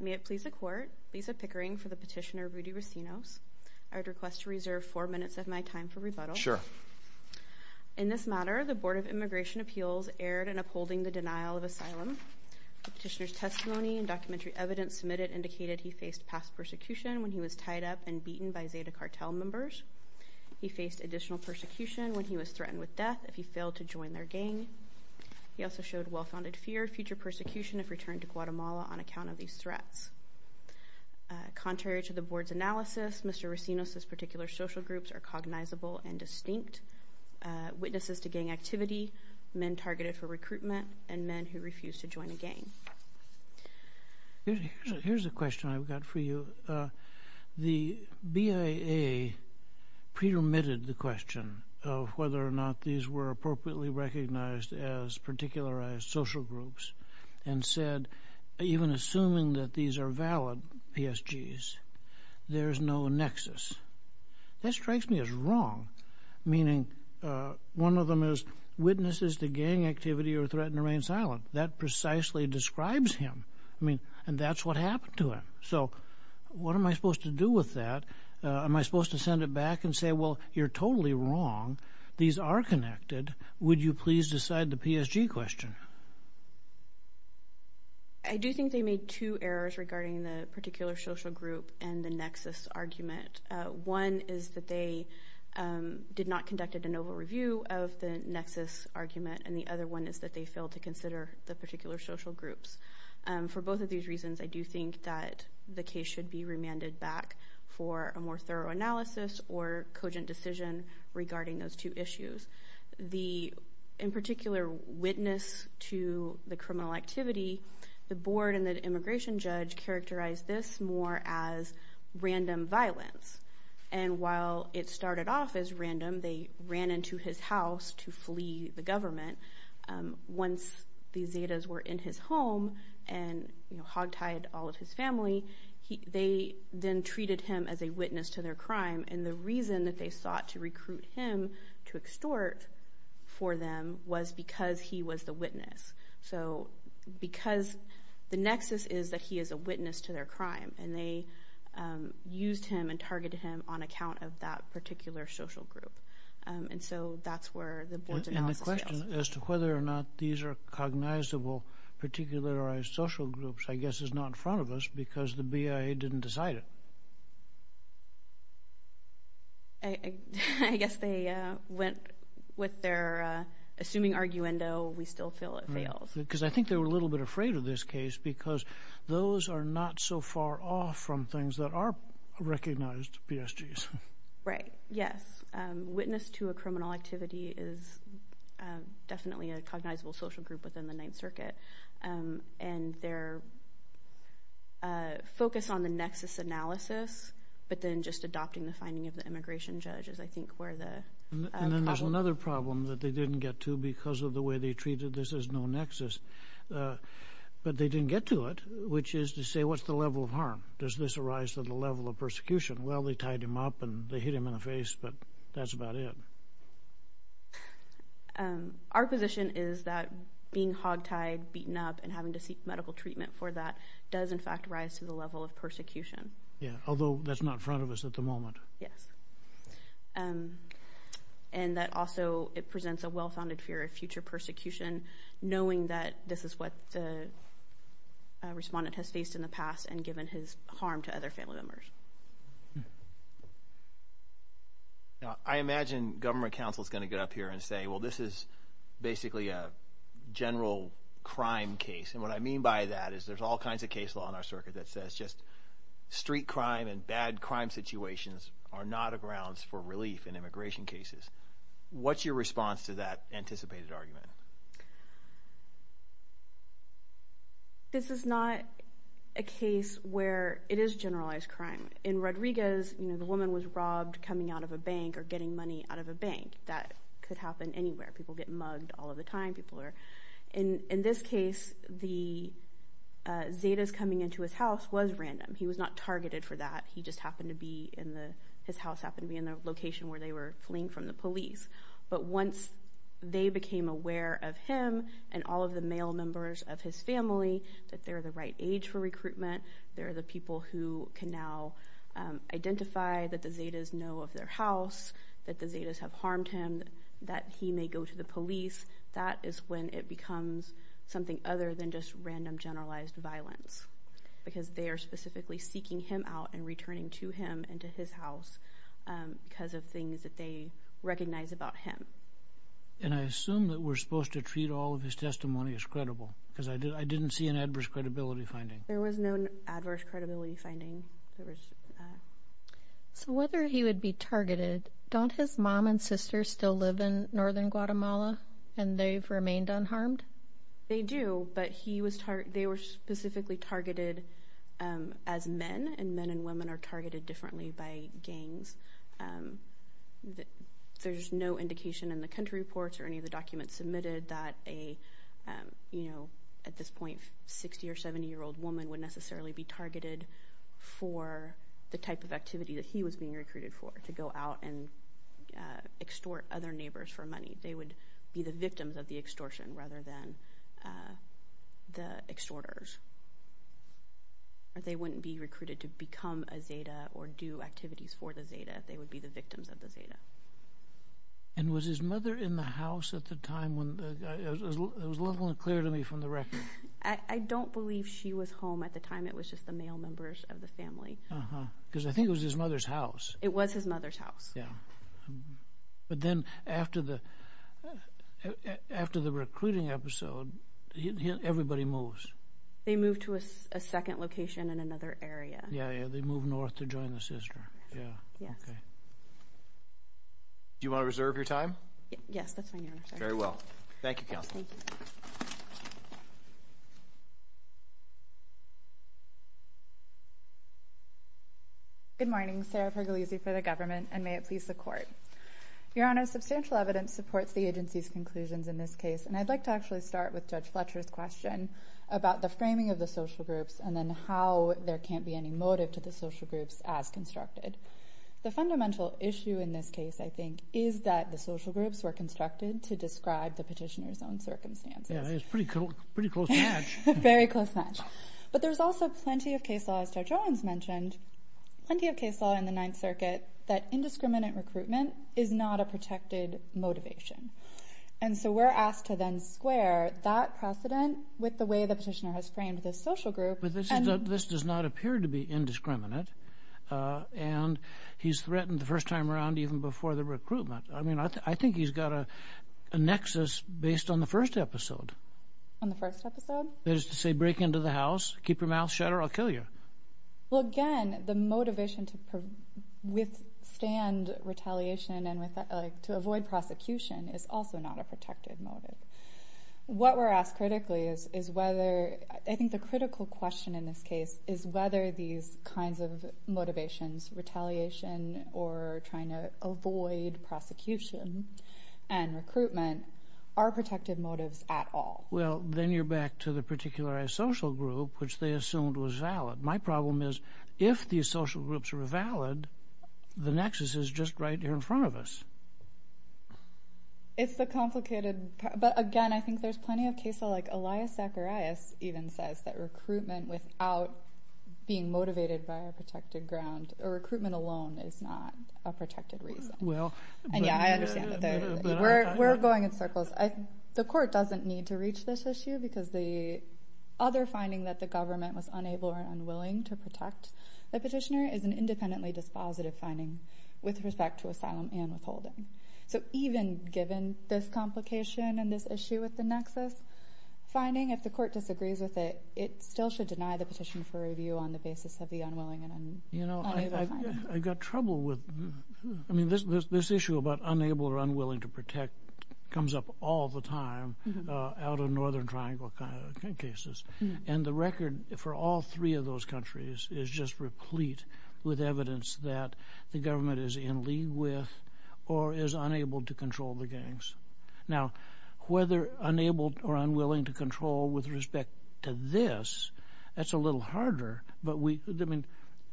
May it please the court, Lisa Pickering for the petitioner Rudy Racinos. I would request to reserve four minutes of my time for rebuttal. Sure. In this matter, the Board of Immigration Appeals erred in upholding the denial of asylum. The petitioner's testimony and documentary evidence submitted indicated he faced past persecution when he was tied up and beaten by Zeta Cartel members. He faced additional persecution when he was threatened with death if he failed to join their gang. He also showed well-founded fear of future persecution if returned to Guatemala on account of these threats. Contrary to the Board's analysis, Mr. Racinos' particular social groups are cognizable and distinct. Witnesses to gang activity, men targeted for recruitment, and men who refused to join a gang. Here's a question I've got for you. The BIA pre-remitted the question of whether or not these were appropriately recognized as particularized social groups and said, even assuming that these are valid PSGs, there's no nexus. That strikes me as wrong, meaning one of them is, witnesses to gang activity are threatened to remain silent. That precisely describes him. I mean, and that's what happened to him. So what am I supposed to do with that? Am I supposed to send it back and say, well, you're totally wrong. These are connected. Would you please decide the PSG question? I do think they made two errors regarding the particular social group and the nexus argument. One is that they did not conduct a de novo review of the nexus argument, and the other one is that they failed to consider the particular social groups. For both of these reasons, I do think that the case should be remanded back for a more thorough analysis or cogent decision regarding those two issues. The, in particular, witness to the criminal activity, the board and the immigration judge characterized this more as random violence. And while it started off as random, they ran into his house to his home and hogtied all of his family. They then treated him as a witness to their crime, and the reason that they sought to recruit him to extort for them was because he was the witness. So because the nexus is that he is a witness to their crime, and they used him and targeted him on account of that particular social group. And so that's where the board's analysis fails. As to whether or not these are cognizable particularized social groups, I guess is not in front of us because the BIA didn't decide it. I guess they went with their assuming arguendo, we still feel it fails. Because I think they were a little bit afraid of this case because those are not so far off from things that are recognized PSGs. Right, yes. Witness to a criminal activity is definitely a cognizable social group within the Ninth Circuit. And their focus on the nexus analysis, but then just adopting the finding of the immigration judge is I think where the... And then there's another problem that they didn't get to because of the way they treated this as no nexus. But they didn't get to it, which is to say, what's the level of harm? Does this arise to the level of persecution? Well, they tied him up and they hit him in the face, but that's about it. Our position is that being hogtied, beaten up, and having to seek medical treatment for that does in fact rise to the level of persecution. Yeah, although that's not in front of us at the moment. Yes. And that also it presents a well-founded fear of future persecution knowing that this is what the respondent has faced in the past and given his harm to other family members. I imagine government counsel is going to get up here and say, well, this is basically a general crime case. And what I mean by that is there's all kinds of case law in our circuit that says just street crime and bad crime situations are not a grounds for relief in immigration cases. What's your response to that anticipated argument? This is not a case where it is generalized crime. In Rodriguez, the woman was robbed coming out of a bank or getting money out of a bank. That could happen anywhere. People get mugged all of the time. In this case, the Zetas coming into his house was random. He was not targeted for that. His house happened to be in the location where they were fleeing from the police. But once they became aware of him and all of the male members of his family, that they're the right age for recruitment, they're the people who can now identify that the Zetas know of their house, that the Zetas have harmed him, that he may go to the police, that is when it becomes something other than just random generalized violence. Because they are specifically seeking him out and returning to him and to his house because of things that they recognize about him. And I assume that we're supposed to treat all of his testimony as I didn't see an adverse credibility finding. There was no adverse credibility finding. So whether he would be targeted, don't his mom and sister still live in northern Guatemala and they've remained unharmed? They do, but they were specifically targeted as men, and men and women are targeted differently by gangs. There's no indication in the country reports or any of the point 60 or 70 year old woman would necessarily be targeted for the type of activity that he was being recruited for, to go out and extort other neighbors for money. They would be the victims of the extortion rather than the extorters. They wouldn't be recruited to become a Zeta or do activities for the Zeta. They would be the victims of the Zeta. And was his mother in the house at the time? It was a little unclear to me from the record. I don't believe she was home at the time. It was just the male members of the family. Because I think it was his mother's house. It was his mother's house. Yeah. But then after the recruiting episode, everybody moves. They move to a second location in another area. Yeah, yeah. They move north to join the sister. Yeah. Okay. Do you want to reserve your time? Yes, that's fine, Your Honor. Very well. Thank you, counsel. Good morning, Sarah Pergolese for the government, and may it please the court. Your Honor, substantial evidence supports the agency's conclusions in this case, and I'd like to actually start with Judge Fletcher's question about the framing of the social groups and then how there can't be any motive to frame the social groups as constructed. The fundamental issue in this case, I think, is that the social groups were constructed to describe the petitioner's own circumstances. Yeah, that's a pretty close match. Very close match. But there's also plenty of case law, as Judge Owens mentioned, plenty of case law in the Ninth Circuit that indiscriminate recruitment is not a protected motivation. And so we're asked to then square that precedent with the way the petitioner has framed this social group. This does not appear to be indiscriminate, and he's threatened the first time around even before the recruitment. I mean, I think he's got a nexus based on the first episode. On the first episode? That is to say, break into the house, keep your mouth shut, or I'll kill you. Well, again, the motivation to withstand retaliation and to avoid prosecution is also not a protected motive. What we're asked critically is whether, I think the critical question in this case, is whether these kinds of motivations, retaliation or trying to avoid prosecution and recruitment, are protected motives at all. Well, then you're back to the particularized social group, which they assumed was valid. My problem is, if these social groups are valid, the nexus is just right here in front of us. It's a complicated, but again, I think there's plenty of cases like Elias Zacharias even says that recruitment without being motivated by a protected ground, or recruitment alone is not a protected reason. And yeah, I understand that. We're going in circles. The court doesn't need to reach this issue because the other finding that the government was unable or unwilling to protect the petitioner is an independently dispositive finding with respect to asylum and withholding. So even given this complication and this issue with the nexus finding, if the court disagrees with it, it still should deny the petition for review on the basis of the unwilling and I've got trouble with, I mean, this issue about unable or unwilling to protect comes up all the time out of Northern Triangle cases. And the record for all three of those countries is just replete with evidence that the government is in league with or is unable to control the gangs. Now, whether unable or unwilling to control with respect to this, that's a little harder. But we, I mean,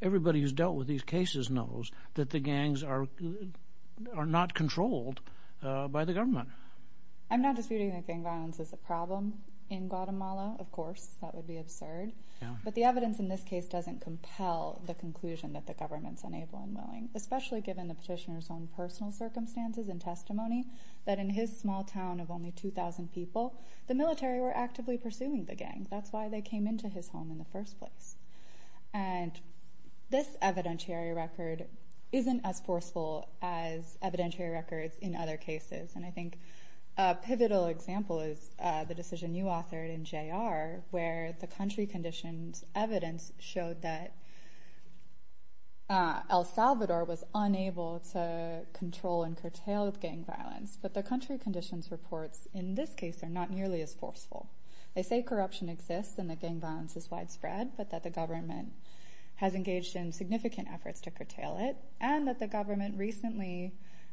everybody who's dealt with these cases knows that the gangs are not controlled by the government. I'm not disputing that gang violence is a problem in Guatemala, of course, that would be absurd. But the evidence in this case doesn't compel the conclusion that the government's unable and willing, especially given the petitioner's own personal circumstances and testimony that in his small town of only 2,000 people, the military were actively pursuing the gang. That's why they came into his home in the first place. And this evidentiary record isn't as forceful as evidentiary records in other cases. And I think a pivotal example is the decision you authored in JR, where the country conditions evidence showed that El Salvador was unable to control and curtail gang violence. But the country conditions reports in this case are not nearly as forceful. They say corruption exists and that gang violence is widespread, but that the government has engaged in significant efforts to curtail it, and that the government recently,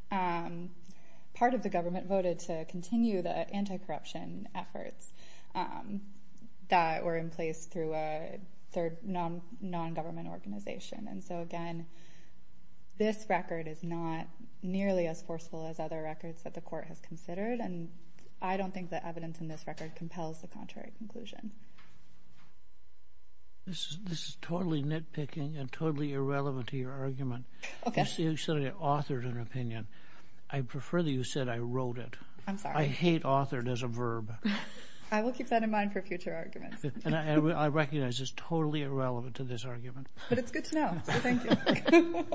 part of the government voted to continue the anti-corruption efforts that were in place through a third non-government organization. And so again, this record is not nearly as forceful as other records that the court has considered. And I don't think the evidence in this record compels the contrary conclusion. This is totally nitpicking and totally irrelevant to your argument. You said you authored an opinion. I prefer that you said I wrote it. I'm sorry. I hate authored as a verb. I will keep that in mind for future arguments. And I recognize it's totally irrelevant to this argument. But it's good to know. So thank you.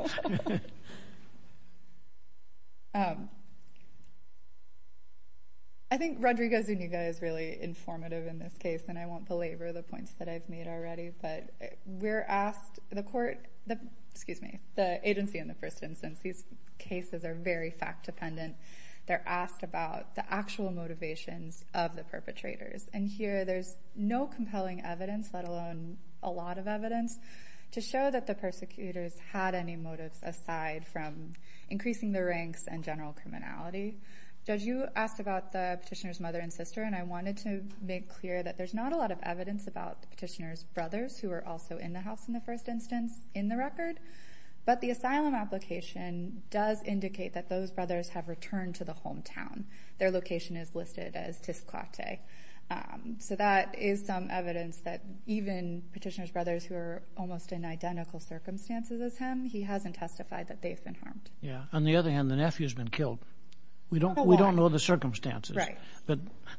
I think Rodrigo Zuniga is really informative in this case, and I would belabor the points that I've made already. But we're asked, the agency in the first instance, these cases are very fact-dependent. They're asked about the actual motivations of the perpetrators. And here, there's no compelling evidence, let alone a lot of evidence, to show that the persecutors had any motives aside from increasing the ranks and general criminality. Judge, you petitioner's brothers who were also in the house in the first instance in the record. But the asylum application does indicate that those brothers have returned to the hometown. Their location is listed as Tisclate. So that is some evidence that even petitioner's brothers who are almost in identical circumstances as him, he hasn't testified that they've been harmed. Yeah. On the other hand, the nephew has been killed. We don't know the circumstances. Right.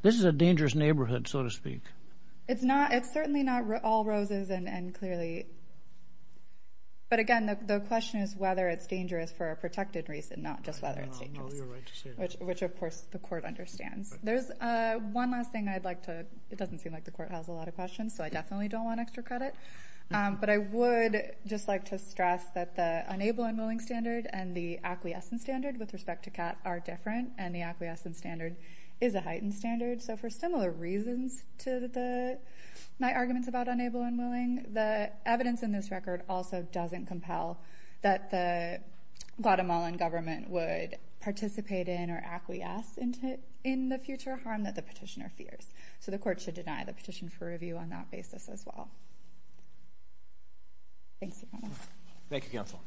This is a dangerous neighborhood, so to speak. It's certainly not all roses. But again, the question is whether it's dangerous for a protected reason, not just whether it's dangerous, which, of course, the court understands. There's one last thing I'd like to, it doesn't seem like the court has a lot of questions, so I definitely don't want extra credit. But I would just like to stress that the unable and willing standard and the acquiescent standard with respect to Kat are different, and the acquiescent standard is a heightened standard. So for similar reasons to my arguments about unable and willing, the evidence in this record also doesn't compel that the Guatemalan government would participate in or acquiesce in the future harm that the petitioner fears. So the court should deny the petition for review on that basis as well. Thank you. Thank you, Counsel.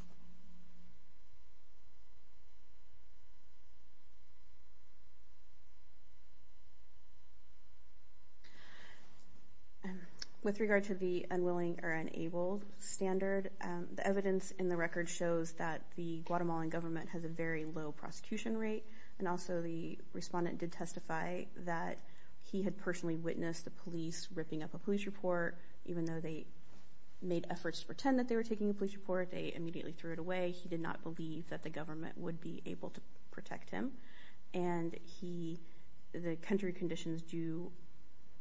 With regard to the unwilling or unable standard, the evidence in the record shows that the Guatemalan government has a very low prosecution rate, and also the respondent did testify that he had personally witnessed the police ripping up a police report. Even though they made efforts to pretend that they were taking a police report, they immediately threw it away. He did not believe that the government would be able to protect him. And the country conditions do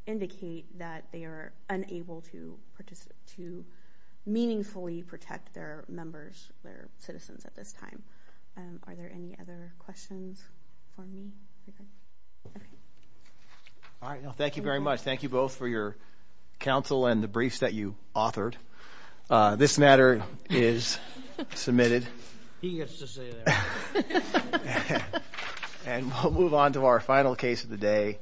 indicate that they are unable to meaningfully protect their members, their citizens at this time. Are there any other questions for me? All right. Thank you very much. Thank you both for your counsel and the briefs that you authored. This matter is submitted. And we'll move on to our final case of the day.